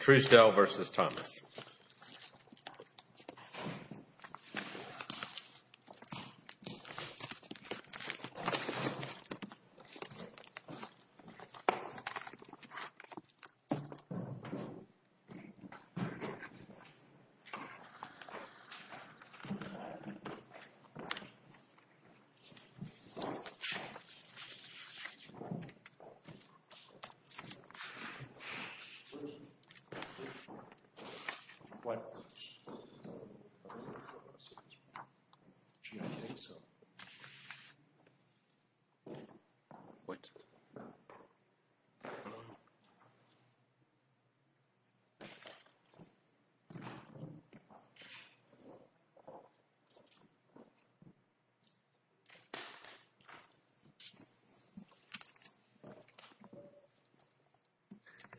Truesdell v. Thomas Well, I don't think so. What?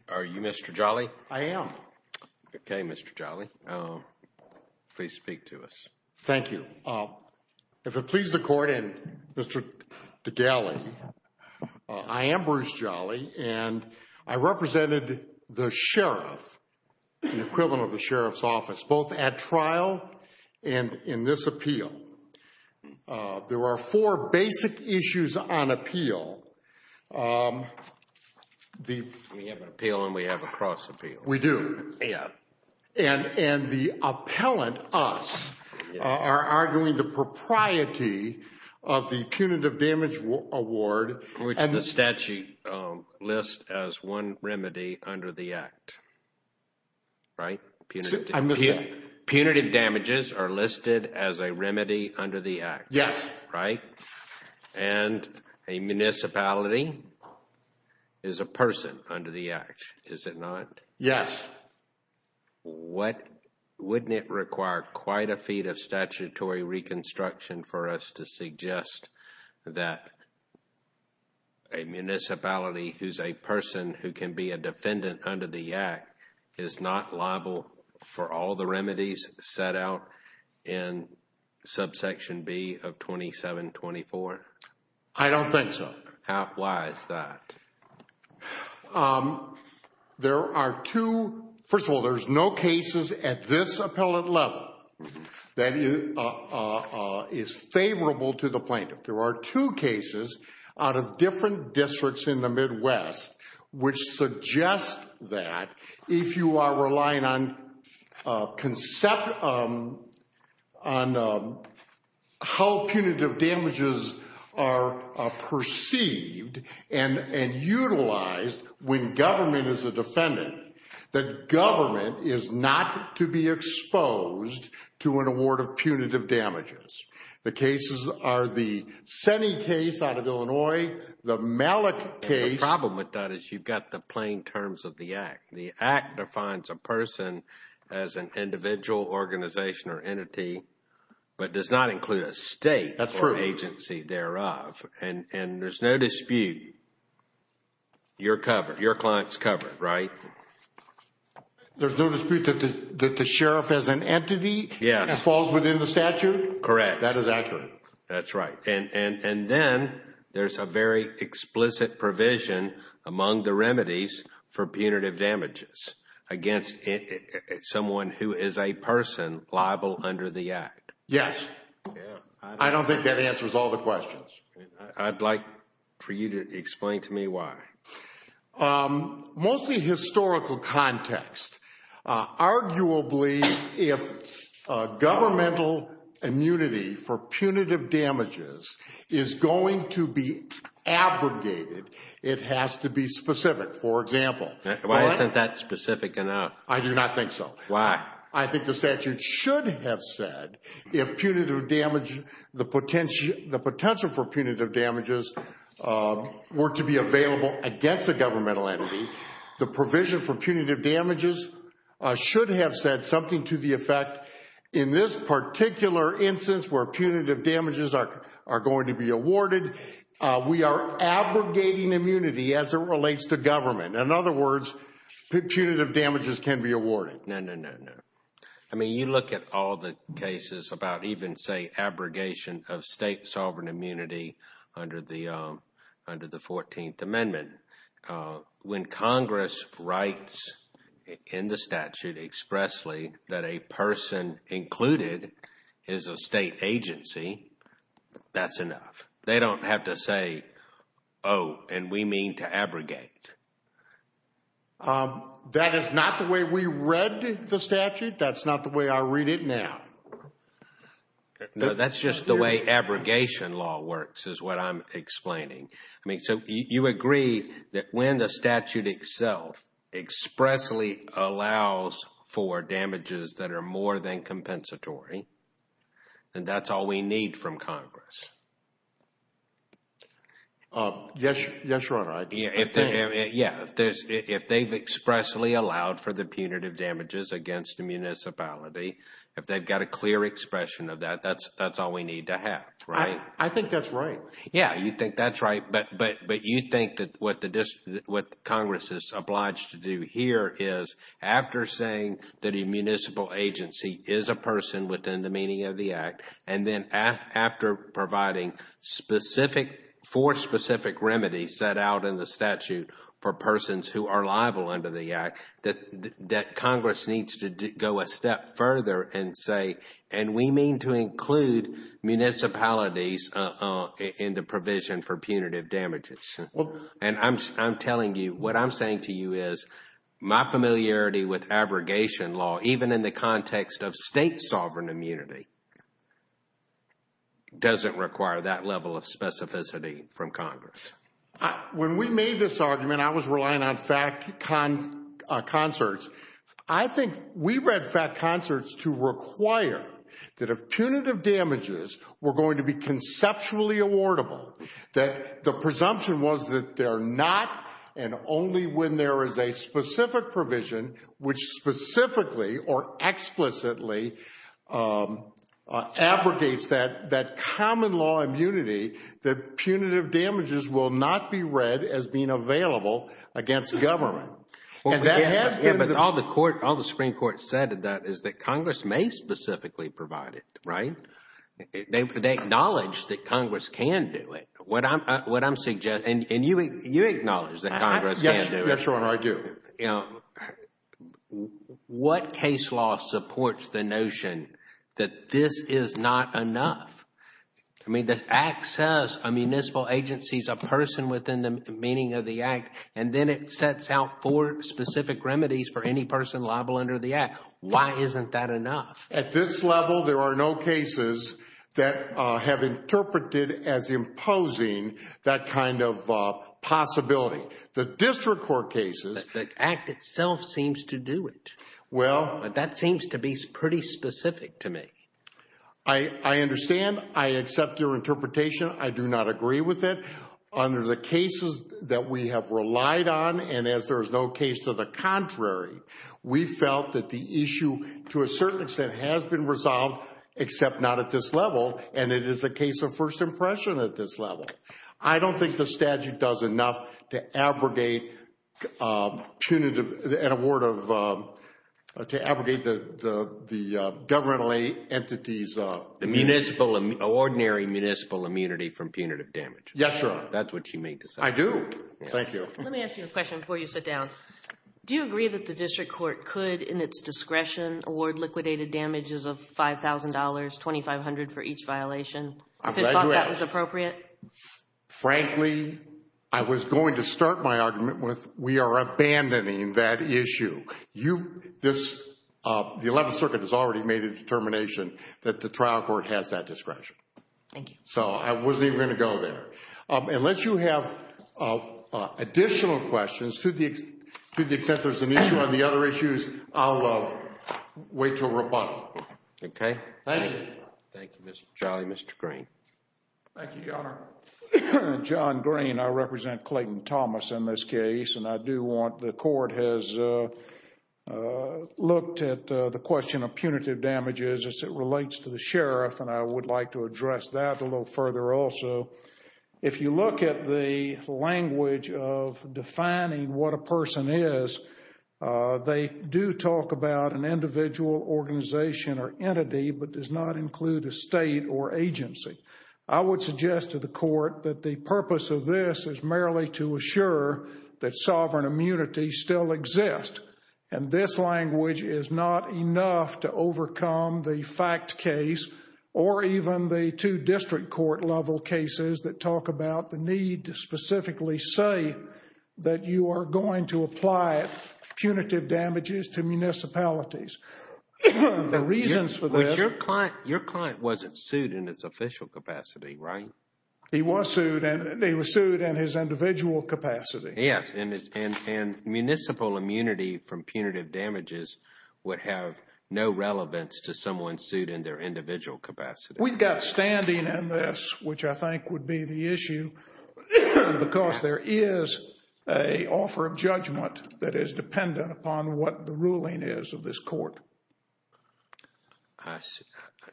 Are you Mr. Jolly? I am. Okay, Mr. Jolly. Please speak to us. Thank you. If it pleases the Court and Mr. Degali, I am Bruce Jolly and I represented the sheriff, the equivalent of the sheriff's office, both at trial and in this appeal. There are four basic issues on appeal. We have an appeal and we have a cross appeal. We do. And the appellant, us, are arguing the propriety of the punitive damage award. Which the statute lists as one remedy under the act. Right? Punitive damages are listed as a remedy. A remedy under the act. Yes. Right? And a municipality is a person under the act, is it not? Yes. Wouldn't it require quite a feat of statutory reconstruction for us to suggest that a municipality who is a person who can be a defendant under the act is not liable for all the remedies set out in subsection B of 2724? I don't think so. Why is that? There are two... First of all, there's no cases at this appellant level that is favorable to the plaintiff. There are two cases out of different districts in the Midwest which suggest that if you are on how punitive damages are perceived and utilized when government is a defendant, that government is not to be exposed to an award of punitive damages. The cases are the Senny case out of Illinois, the Malik case... The problem with that is you've got the plain terms of the act. The act defines a person as an individual organization or entity, but does not include a state... That's true.... or agency thereof. And there's no dispute. You're covered. Your client's covered, right? There's no dispute that the sheriff as an entity... Yes.... falls within the statute? Correct. That is accurate. That's right. And then there's a very explicit provision among the remedies for punitive damages against someone who is a person liable under the act. Yes. I don't think that answers all the questions. I'd like for you to explain to me why. Mostly historical context. Arguably, if governmental immunity for punitive damages is going to be abrogated, it has to be specific. For example... Why isn't that specific enough? I do not think so. Why? I think the statute should have said if punitive damage... the potential for punitive damages were to be available against a governmental entity, the provision for punitive damages should have said something to the effect, in this particular instance where punitive damages are going to be awarded, we are abrogating immunity as it relates to government. In other words, punitive damages can be awarded. No, no, no, no. I mean, you look at all the cases about even, say, abrogation of state sovereign immunity under the 14th Amendment. When Congress writes in the statute expressly that a person included is a state agency, that's enough. They don't have to say, oh, and we mean to abrogate. That is not the way we read the statute. That's not the way I read it now. No, that's just the way abrogation law works is what I'm explaining. I mean, so you agree that when the statute itself expressly allows for damages that are more than compensatory, then that's all we need from Congress? Yes, Your Honor. I think. Yeah. If they've expressly allowed for the punitive damages against the municipality, if they've got a clear expression of that, that's all we need to have, right? I think that's right. Yeah, you think that's right, but you think that what Congress is obliged to do here is after saying that a municipal agency is a person within the meaning of the Act, and then after providing four specific remedies set out in the statute for persons who are and say, and we mean to include municipalities in the provision for punitive damages. And I'm telling you, what I'm saying to you is my familiarity with abrogation law, even in the context of state sovereign immunity, doesn't require that level of specificity from Congress. When we made this argument, I was relying on fact concerts. I think we read fact concerts to require that if punitive damages were going to be conceptually awardable, that the presumption was that they're not, and only when there is a specific provision which specifically or explicitly abrogates that common law immunity, that punitive damages will not be read as being available against government. Yeah, but all the Supreme Court said is that Congress may specifically provide it, right? They acknowledge that Congress can do it. What I'm suggesting, and you acknowledge that Congress can do it. Yes, Your Honor, I do. What case law supports the notion that this is not enough? I mean, the Act says a municipal agency is a person within the meaning of the Act, and then it sets out four specific remedies for any person liable under the Act. Why isn't that enough? At this level, there are no cases that have interpreted as imposing that kind of possibility. The district court cases... The Act itself seems to do it. Well... But that seems to be pretty specific to me. I understand. I accept your interpretation. I do not agree with it. Under the cases that we have relied on, and as there is no case to the contrary, we felt that the issue, to a certain extent, has been resolved, except not at this level, and it is a case of first impression at this level. I don't think the statute does enough to abrogate punitive... An award of... To abrogate the governmental entity's... Ordinary municipal immunity from punitive damage. Yes, Your Honor. That's what you may decide. I do. Thank you. Let me ask you a question before you sit down. Do you agree that the district court could, in its discretion, award liquidated damages of $5,000, $2,500 for each violation? I'm glad you asked. Do you think that was appropriate? Frankly, I was going to start my argument with, we are abandoning that issue. You... This... The 11th Circuit has already made a determination that the trial court has that discretion. Thank you. So, I wasn't even going to go there. Unless you have additional questions, to the extent there's an issue on the other issues, I'll wait till rebuttal. Okay. Thank you. Thank you, Your Honor. Thank you, Mr. Charlie. Mr. Green. Thank you, Your Honor. John Green. I represent Clayton Thomas in this case. And I do want... The court has looked at the question of punitive damages as it relates to the sheriff. And I would like to address that a little further also. If you look at the language of defining what a person is, they do talk about an individual organization or entity, but does not include a state or agency. I would suggest to the court that the purpose of this is merely to assure that sovereign immunity still exists. And this language is not enough to overcome the fact case or even the two district court level cases that talk about the need to specifically say that you are going to apply punitive damages to municipalities. The reasons for this... Your client wasn't sued in his official capacity, right? He was sued and they were sued in his individual capacity. Yes. And municipal immunity from punitive damages would have no relevance to someone sued in their individual capacity. We've got standing in this, which I think would be the issue, because there is an offer of judgment that is dependent upon what the ruling is of this court. I see.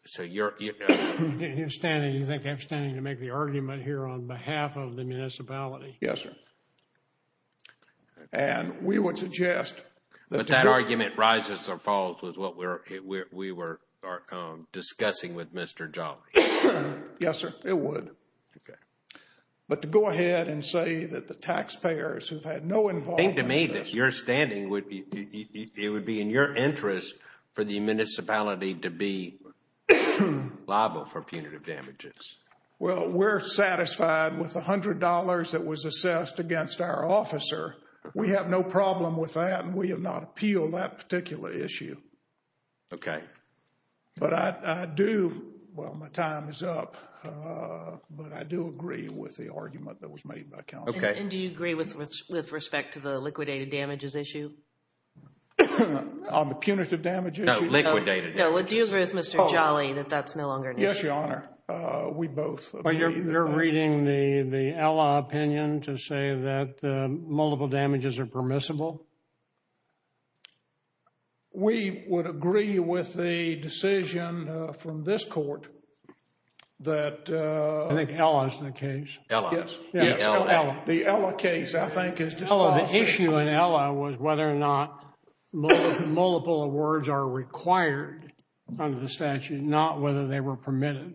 So you're... You're standing... You think I'm standing to make the argument here on behalf of the municipality? Yes, sir. And we would suggest... But that argument rises or falls with what we were discussing with Mr. Jolly. Yes, sir. It would. Okay. But to go ahead and say that the taxpayers who've had no involvement... Think to me that your standing would be... It would be in your interest for the municipality to be liable for punitive damages. Well, we're satisfied with $100 that was assessed against our officer. We have no problem with that and we have not appealed that particular issue. Okay. But I do... Well, my time is up, but I do agree with the argument that was made by counsel. Okay. And do you agree with respect to the liquidated damages issue? On the punitive damage issue? No, liquidated. No, it deals with Mr. Jolly that that's no longer an issue. Yes, Your Honor. We both... You're reading the ally opinion to say that multiple damages are permissible? We would agree with the decision from this court that... I think Ella is the case. Ella. Yes. Ella. The Ella case, I think, is just... Ella. The issue in Ella was whether or not multiple awards are required under the statute, not whether they were permitted.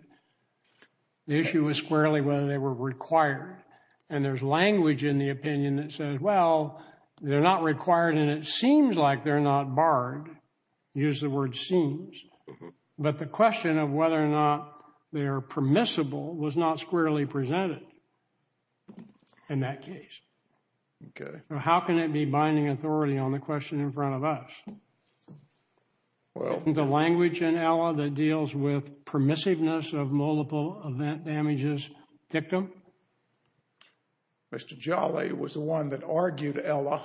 The issue was squarely whether they were required. And there's language in the opinion that says, well, they're not required and it seems like they're not barred. Use the word seems. But the question of whether or not they are permissible was not squarely presented in that case. Okay. How can it be binding authority on the question in front of us? Well... Is there language in Ella that deals with permissiveness of multiple event damages dictum? Mr. Jolly was the one that argued Ella.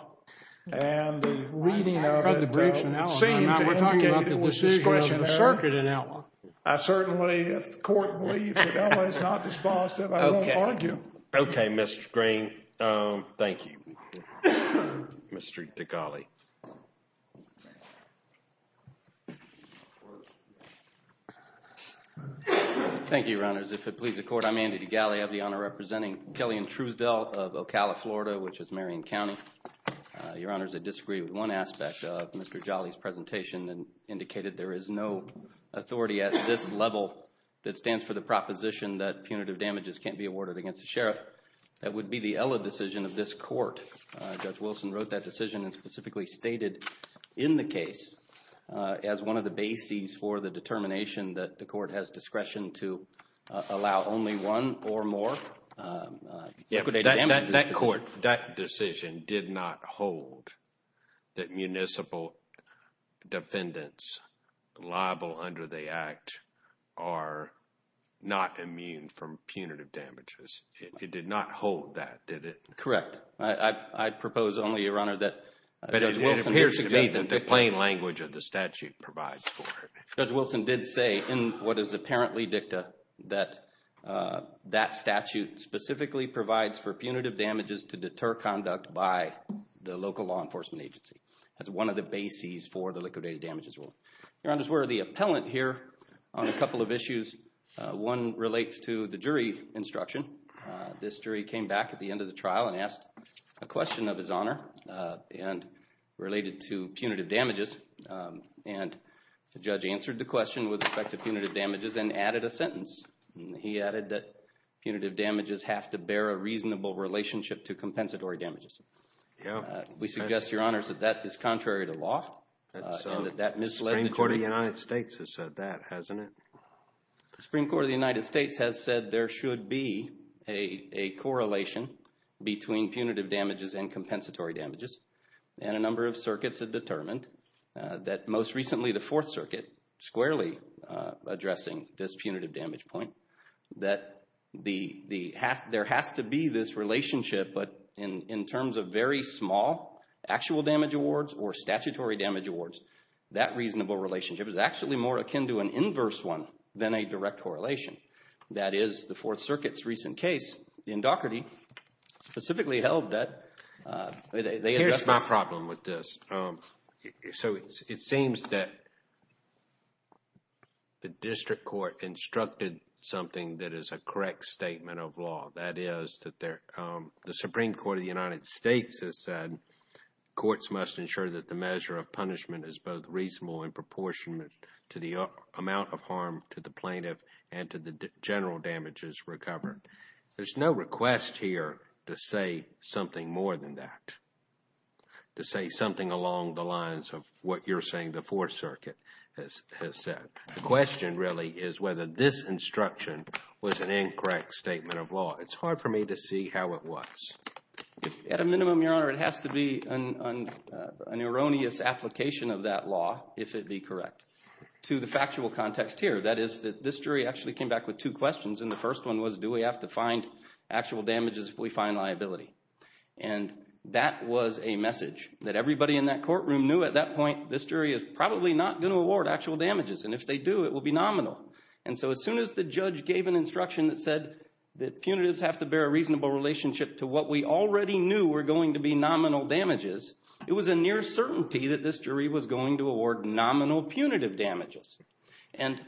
And the reading of it seemed to indicate it was discretionary. We're talking about the decision of the circuit in Ella. I certainly, if the court believes that Ella is not dispositive, I will argue. Okay, Mr. Green. Thank you. Mr. Degali. Thank you, Your Honors. If it pleases the court, I'm Andy Degali. I have the honor of representing Kelly and Truesdell of Ocala, Florida, which is Marion County. Your Honors, I disagree with one aspect of Mr. Jolly's presentation. It indicated there is no authority at this level that stands for the proposition that punitive damages can't be awarded against a sheriff. That would be the Ella decision of this court. Judge Wilson wrote that decision and specifically stated in the case as one of the bases for the determination that the court has discretion to allow only one or more liquidated damages. That court, that decision, did not hold that municipal defendants liable under the Act are not immune from punitive damages. It did not hold that, did it? Correct. I propose only, Your Honor, that Judge Wilson… It appears to me that the plain language of the statute provides for it. Judge Wilson did say in what is apparently dicta that that statute specifically provides for punitive damages to deter conduct by the local law enforcement agency. That's one of the bases for the liquidated damages rule. Your Honors, we're the appellant here on a couple of issues. One relates to the jury instruction. This jury came back at the end of the trial and asked a question of his honor and related to punitive damages. And the judge answered the question with respect to punitive damages and added a sentence. He added that punitive damages have to bear a reasonable relationship to compensatory damages. We suggest, Your Honors, that that is contrary to law and that that misled the jury. The Supreme Court of the United States has said that, hasn't it? The Supreme Court of the United States has said there should be a correlation between punitive damages and compensatory damages. And a number of circuits have determined that most recently the Fourth Circuit squarely addressing this punitive damage point, that there has to be this relationship but in terms of very small actual damage awards or statutory damage awards, that reasonable relationship is actually more akin to an inverse one than a direct correlation. That is the Fourth Circuit's recent case in Daugherty specifically held that. Here's my problem with this. So it seems that the district court instructed something that is a correct statement of law. That is that the Supreme Court of the United States has said courts must ensure that the measure of punishment is both reasonable in proportion to the amount of harm to the plaintiff and to the general damages recovered. There's no request here to say something more than that, to say something along the lines of what you're saying the Fourth Circuit has said. The question really is whether this instruction was an incorrect statement of law. It's hard for me to see how it was. At a minimum, Your Honor, it has to be an erroneous application of that law, if it be correct, to the factual context here. That is that this jury actually came back with two questions, and the first one was do we have to find actual damages if we find liability? And that was a message that everybody in that courtroom knew at that point this jury is probably not going to award actual damages. And if they do, it will be nominal. And so as soon as the judge gave an instruction that said that punitives have to bear a reasonable relationship to what we already knew were going to be nominal damages, it was a near certainty that this jury was going to award nominal punitive damages. And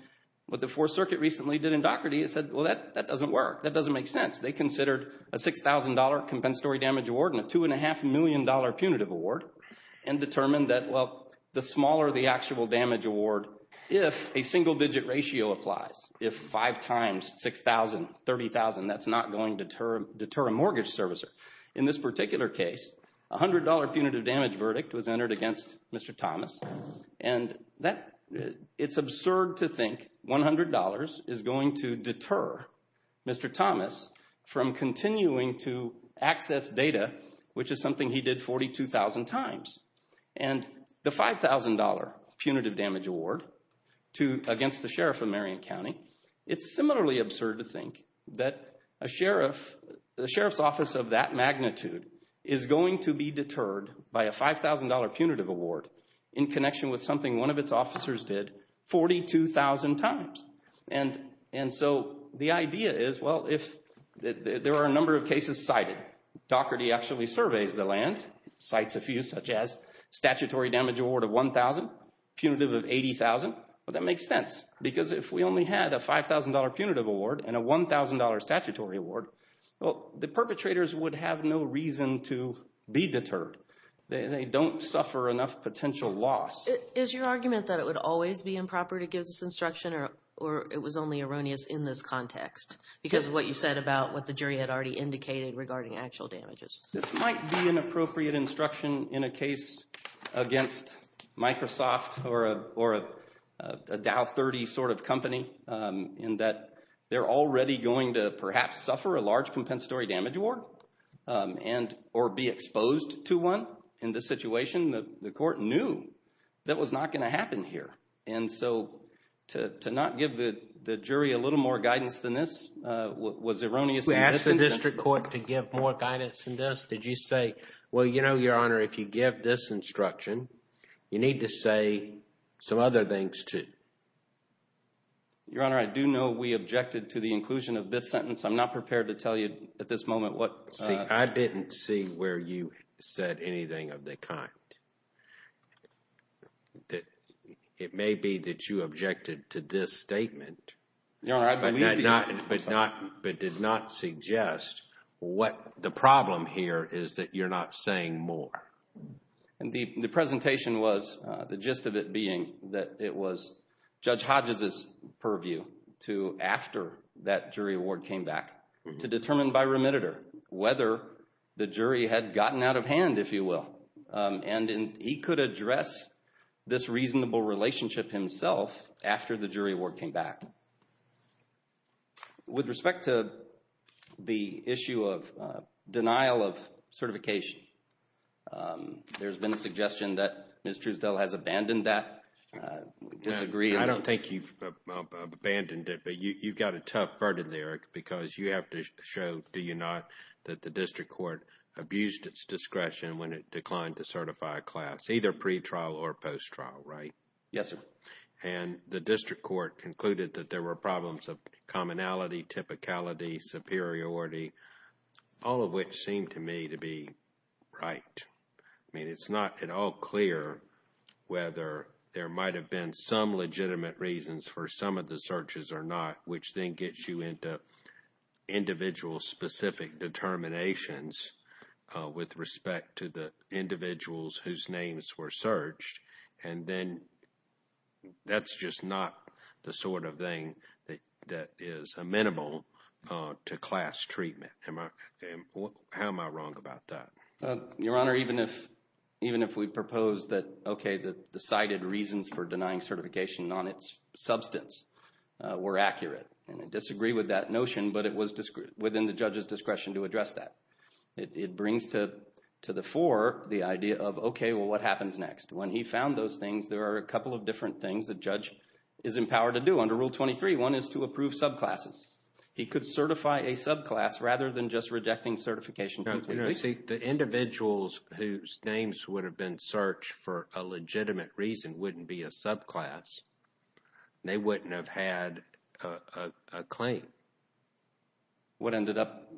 what the Fourth Circuit recently did in Dougherty is said, well, that doesn't work. That doesn't make sense. They considered a $6,000 compensatory damage award and a $2.5 million punitive award and determined that, well, the smaller the actual damage award, if a single-digit ratio applies, if 5 times 6,000, 30,000, that's not going to deter a mortgage servicer. In this particular case, a $100 punitive damage verdict was entered against Mr. Thomas, and it's absurd to think $100 is going to deter Mr. Thomas from continuing to access data, which is something he did 42,000 times. And the $5,000 punitive damage award against the sheriff of Marion County, it's similarly absurd to think that the sheriff's office of that magnitude is going to be deterred by a $5,000 punitive award in connection with something one of its officers did 42,000 times. And so the idea is, well, there are a number of cases cited. Doherty actually surveys the land, cites a few such as statutory damage award of 1,000, punitive of 80,000. Well, that makes sense because if we only had a $5,000 punitive award and a $1,000 statutory award, well, the perpetrators would have no reason to be deterred. They don't suffer enough potential loss. Is your argument that it would always be improper to give this instruction or it was only erroneous in this context? Because what you said about what the jury had already indicated regarding actual damages. This might be an appropriate instruction in a case against Microsoft or a Dow 30 sort of company in that they're already going to perhaps suffer a large compensatory damage award or be exposed to one in this situation. The court knew that was not going to happen here. And so to not give the jury a little more guidance than this was erroneous. We asked the district court to give more guidance than this. Did you say, well, you know, Your Honor, if you give this instruction, you need to say some other things too. Your Honor, I do know we objected to the inclusion of this sentence. I'm not prepared to tell you at this moment what. See, I didn't see where you said anything of the kind. It may be that you objected to this statement. Your Honor, I believe you. But did not suggest what the problem here is that you're not saying more. The presentation was, the gist of it being that it was Judge Hodges' purview to after that jury award came back to determine by remitter whether the jury had gotten out of hand, if you will. And he could address this reasonable relationship himself after the jury award came back. With respect to the issue of denial of certification, there's been a suggestion that Ms. Truesdale has abandoned that. We disagree. I don't think you've abandoned it. But you've got a tough burden there, Eric, because you have to show, do you not, that the district court abused its discretion when it declined to certify a class, either pre-trial or post-trial, right? Yes, sir. And the district court concluded that there were problems of commonality, typicality, superiority, all of which seem to me to be right. I mean, it's not at all clear whether there might have been some legitimate reasons for some of the searches or not, which then gets you into individual specific determinations with respect to the individuals whose names were searched. And then that's just not the sort of thing that is amenable to class treatment. How am I wrong about that? Your Honor, even if we propose that, okay, the cited reasons for denying certification on its substance were accurate, and I disagree with that notion, but it was within the judge's discretion to address that. It brings to the fore the idea of, okay, well, what happens next? When he found those things, there are a couple of different things the judge is empowered to do under Rule 23. One is to approve subclasses. He could certify a subclass rather than just rejecting certification completely. You know, see, the individuals whose names would have been searched for a legitimate reason wouldn't be a subclass. They wouldn't have had a claim. What ended up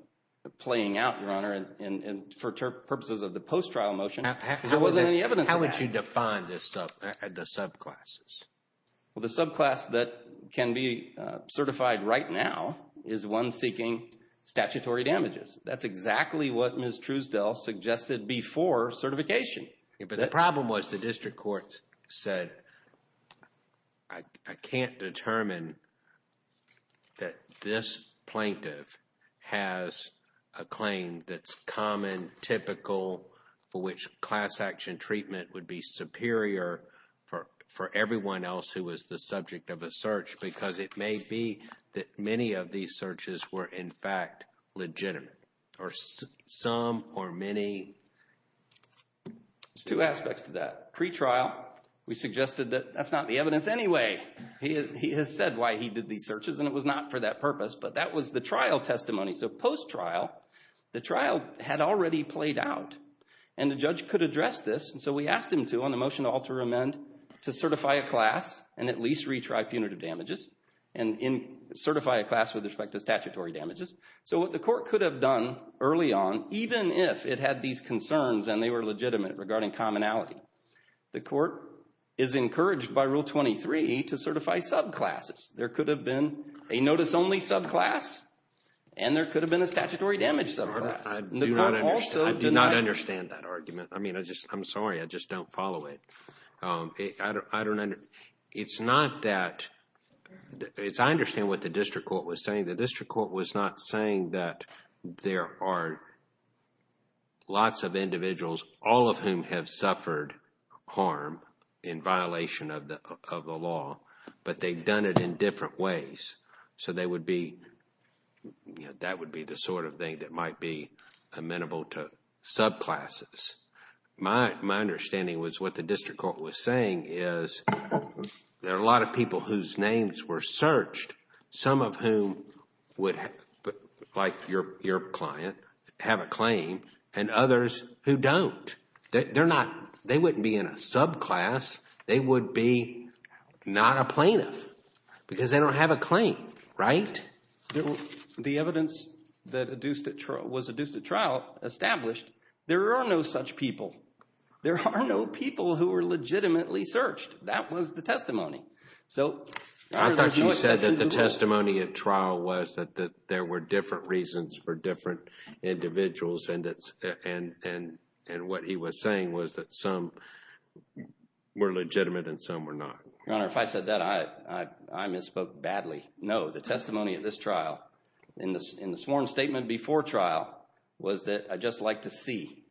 playing out, Your Honor, and for purposes of the post-trial motion, there wasn't any evidence of that. How would you define the subclasses? Well, the subclass that can be certified right now is one seeking statutory damages. That's exactly what Ms. Truesdell suggested before certification. But the problem was the district court said, I can't determine that this plaintiff has a claim that's common, typical, for which class action treatment would be superior for everyone else who was the subject of a search because it may be that many of these searches were, in fact, legitimate, or some or many. There's two aspects to that. Pre-trial, we suggested that that's not the evidence anyway. He has said why he did these searches, and it was not for that purpose, but that was the trial testimony. So post-trial, the trial had already played out, and the judge could address this. So we asked him to, on the motion to alter amend, to certify a class and at least retry punitive damages and certify a class with respect to statutory damages. So what the court could have done early on, even if it had these concerns and they were legitimate regarding commonality, the court is encouraged by Rule 23 to certify subclasses. There could have been a notice-only subclass, and there could have been a statutory damage subclass. I do not understand that argument. I mean, I'm sorry, I just don't follow it. It's not that, as I understand what the district court was saying, the district court was not saying that there are lots of individuals, all of whom have suffered harm in violation of the law, but they've done it in different ways. So they would be, that would be the sort of thing that might be amenable to subclasses. My understanding was what the district court was saying is there are a lot of people whose names were searched, some of whom would, like your client, have a claim, and others who don't. They're not, they wouldn't be in a subclass. They would be not a plaintiff because they don't have a claim, right? The evidence that was adduced at trial established there are no such people. There are no people who were legitimately searched. That was the testimony. I thought you said that the testimony at trial was that there were different reasons for different individuals, and what he was saying was that some were legitimate and some were not. Your Honor, if I said that, I misspoke badly. No, the testimony at this trial, in the sworn statement before trial, was that I'd just like to see.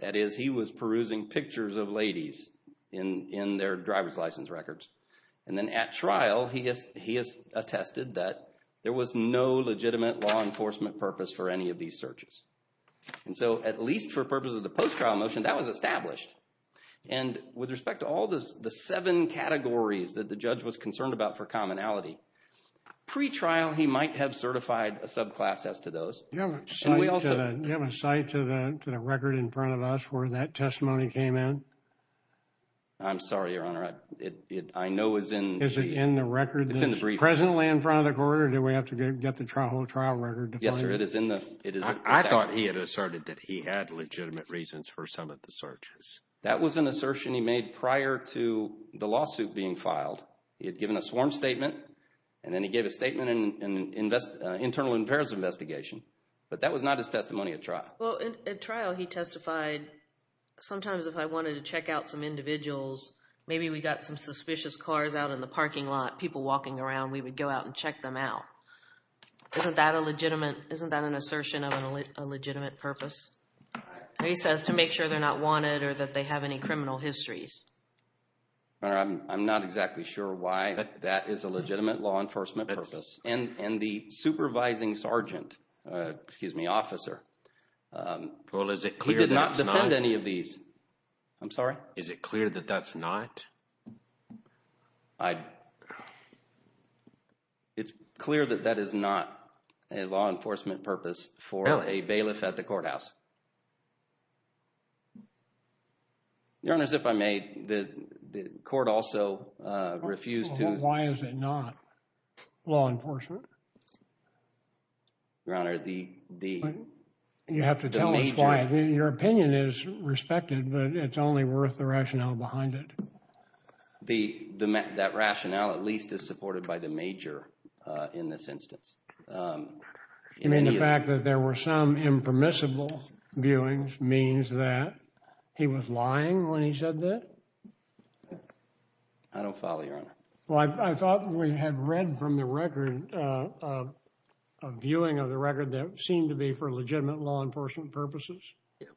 That is, he was perusing pictures of ladies in their driver's license records. And then at trial, he has attested that there was no legitimate law enforcement purpose for any of these searches. And so, at least for purposes of the post-trial motion, that was established. And with respect to all the seven categories that the judge was concerned about for commonality, pre-trial he might have certified a subclass as to those. Do you have a cite to the record in front of us where that testimony came in? I'm sorry, Your Honor. I know it's in the briefcase. Is it in the record, presently in front of the court, or do we have to get the whole trial record? Yes, sir, it is in the briefcase. I thought he had asserted that he had legitimate reasons for some of the searches. That was an assertion he made prior to the lawsuit being filed. He had given a sworn statement, and then he gave a statement in an internal affairs investigation. But that was not his testimony at trial. Well, at trial he testified, sometimes if I wanted to check out some individuals, maybe we got some suspicious cars out in the parking lot, people walking around. We would go out and check them out. Isn't that a legitimate, isn't that an assertion of a legitimate purpose? He says to make sure they're not wanted or that they have any criminal histories. Your Honor, I'm not exactly sure why that is a legitimate law enforcement purpose. And the supervising sergeant, excuse me, officer, he did not defend any of these. I'm sorry? Is it clear that that's not? It's clear that that is not a law enforcement purpose for a bailiff at the courthouse. Your Honor, if I may, the court also refused to. Why is it not law enforcement? Your Honor, the. You have to tell us why. Your opinion is respected, but it's only worth the rationale behind it. That rationale at least is supported by the major in this instance. You mean the fact that there were some impermissible viewings means that he was lying when he said that? I don't follow, Your Honor. Well, I thought we had read from the record, a viewing of the record that it seemed to be for legitimate law enforcement purposes. Yeah.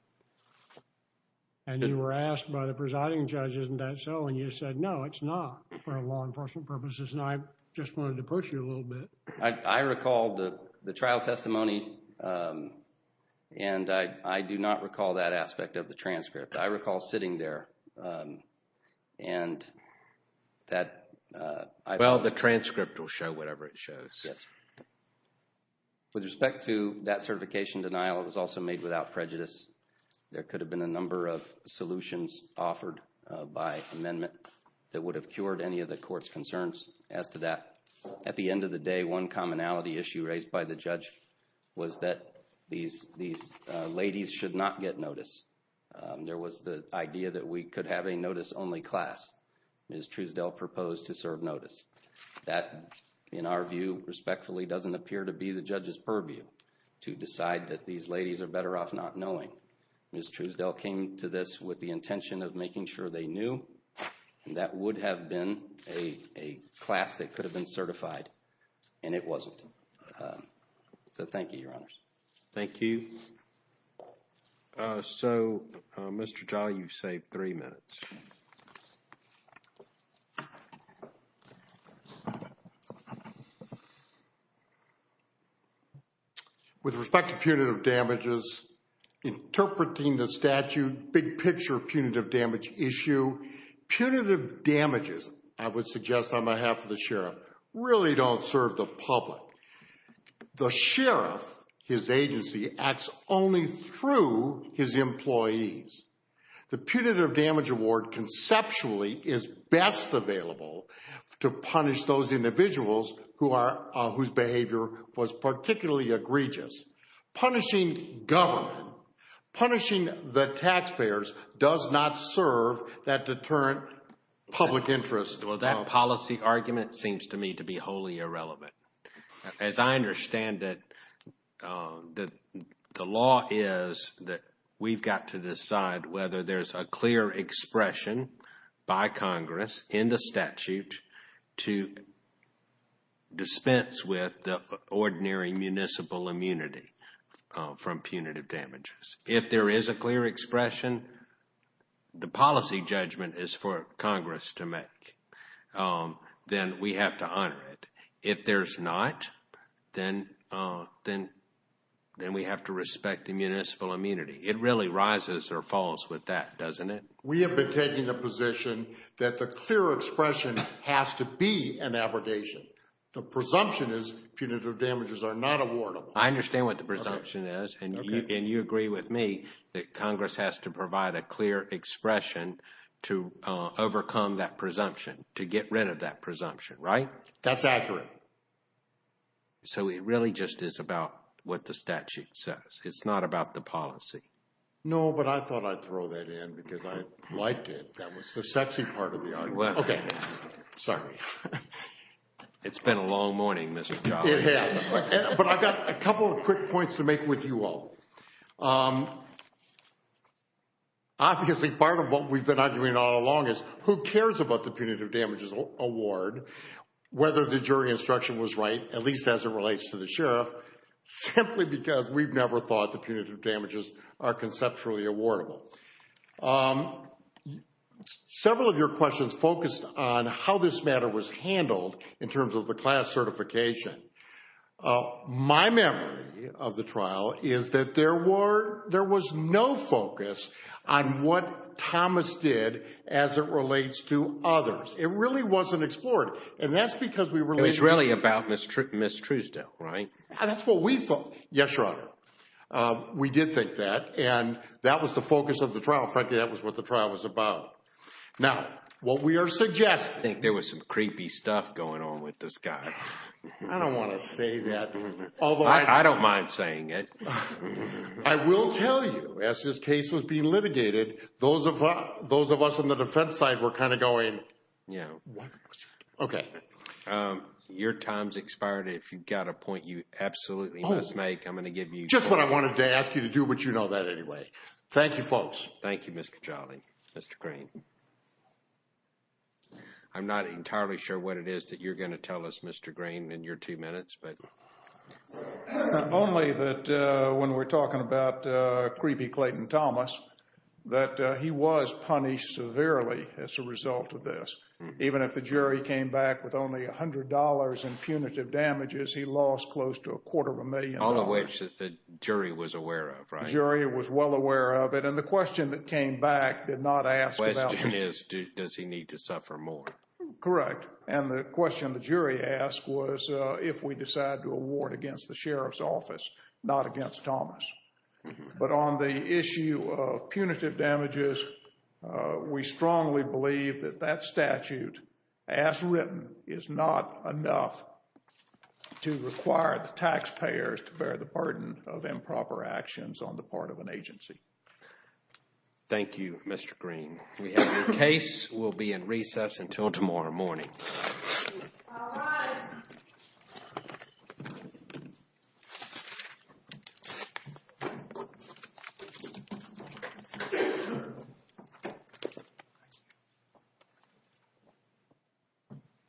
And you were asked by the presiding judge, isn't that so? And you said, no, it's not for law enforcement purposes. And I just wanted to push you a little bit. I recall the trial testimony, and I do not recall that aspect of the transcript. I recall sitting there and that. Well, the transcript will show whatever it shows. Yes. With respect to that certification denial, it was also made without prejudice. There could have been a number of solutions offered by amendment that would have cured any of the court's concerns as to that. At the end of the day, one commonality issue raised by the judge was that these ladies should not get notice. There was the idea that we could have a notice-only class. Ms. Truesdale proposed to serve notice. That, in our view, respectfully, doesn't appear to be the judge's purview to decide that these ladies are better off not knowing. Ms. Truesdale came to this with the intention of making sure they knew. And that would have been a class that could have been certified. And it wasn't. So thank you, Your Honors. Thank you. So, Mr. Jolly, you've saved three minutes. With respect to punitive damages, interpreting the statute, big picture punitive damage issue. Punitive damages, I would suggest on behalf of the sheriff, really don't serve the public. The sheriff, his agency, acts only through his employees. The punitive damage award, conceptually, is best available to punish those individuals whose behavior was particularly egregious. Punishing government, punishing the taxpayers, does not serve that deterrent public interest. Well, that policy argument seems to me to be wholly irrelevant. As I understand it, the law is that we've got to decide whether there's a clear expression by Congress in the statute to dispense with the ordinary municipal immunity from punitive damages. If there is a clear expression, the policy judgment is for Congress to make. Then we have to honor it. If there's not, then we have to respect the municipal immunity. It really rises or falls with that, doesn't it? We have been taking a position that the clear expression has to be an abrogation. The presumption is punitive damages are not awardable. I understand what the presumption is. And you agree with me that Congress has to provide a clear expression to overcome that presumption, to get rid of that presumption, right? That's accurate. So it really just is about what the statute says. It's not about the policy. No, but I thought I'd throw that in because I liked it. That was the sexy part of the argument. Okay. Sorry. It's been a long morning, Mr. Collins. But I've got a couple of quick points to make with you all. Obviously, part of what we've been arguing all along is who cares about the punitive damages award, whether the jury instruction was right, at least as it relates to the sheriff, simply because we've never thought the punitive damages are conceptually awardable. Several of your questions focused on how this matter was handled in terms of the class certification. My memory of the trial is that there was no focus on what Thomas did as it relates to others. It really wasn't explored. And that's because we were – It was really about Ms. Truesdale, right? That's what we thought. Yes, Your Honor. We did think that. And that was the focus of the trial. Frankly, that was what the trial was about. Now, what we are suggesting – I think there was some creepy stuff going on with this guy. I don't want to say that. I don't mind saying it. I will tell you, as this case was being litigated, those of us on the defense side were kind of going, what? Okay. Your time's expired. If you've got a point you absolutely must make, I'm going to give you – Just what I wanted to ask you to do, but you know that anyway. Thank you, folks. Thank you, Mr. Cagliari. Mr. Green. I'm not entirely sure what it is that you're going to tell us, Mr. Green, in your two minutes. Only that when we're talking about creepy Clayton Thomas, that he was punished severely as a result of this. Even if the jury came back with only $100 in punitive damages, he lost close to a quarter of a million dollars. All of which the jury was aware of, right? The jury was well aware of it. And the question that came back did not ask about – The question is, does he need to suffer more? Correct. And the question the jury asked was if we decide to award against the sheriff's office, not against Thomas. But on the issue of punitive damages, we strongly believe that that statute, as written, is not enough to require the taxpayers to bear the burden of improper actions on the part of an agency. Thank you, Mr. Green. We have your case. We'll be in recess until tomorrow morning. All rise.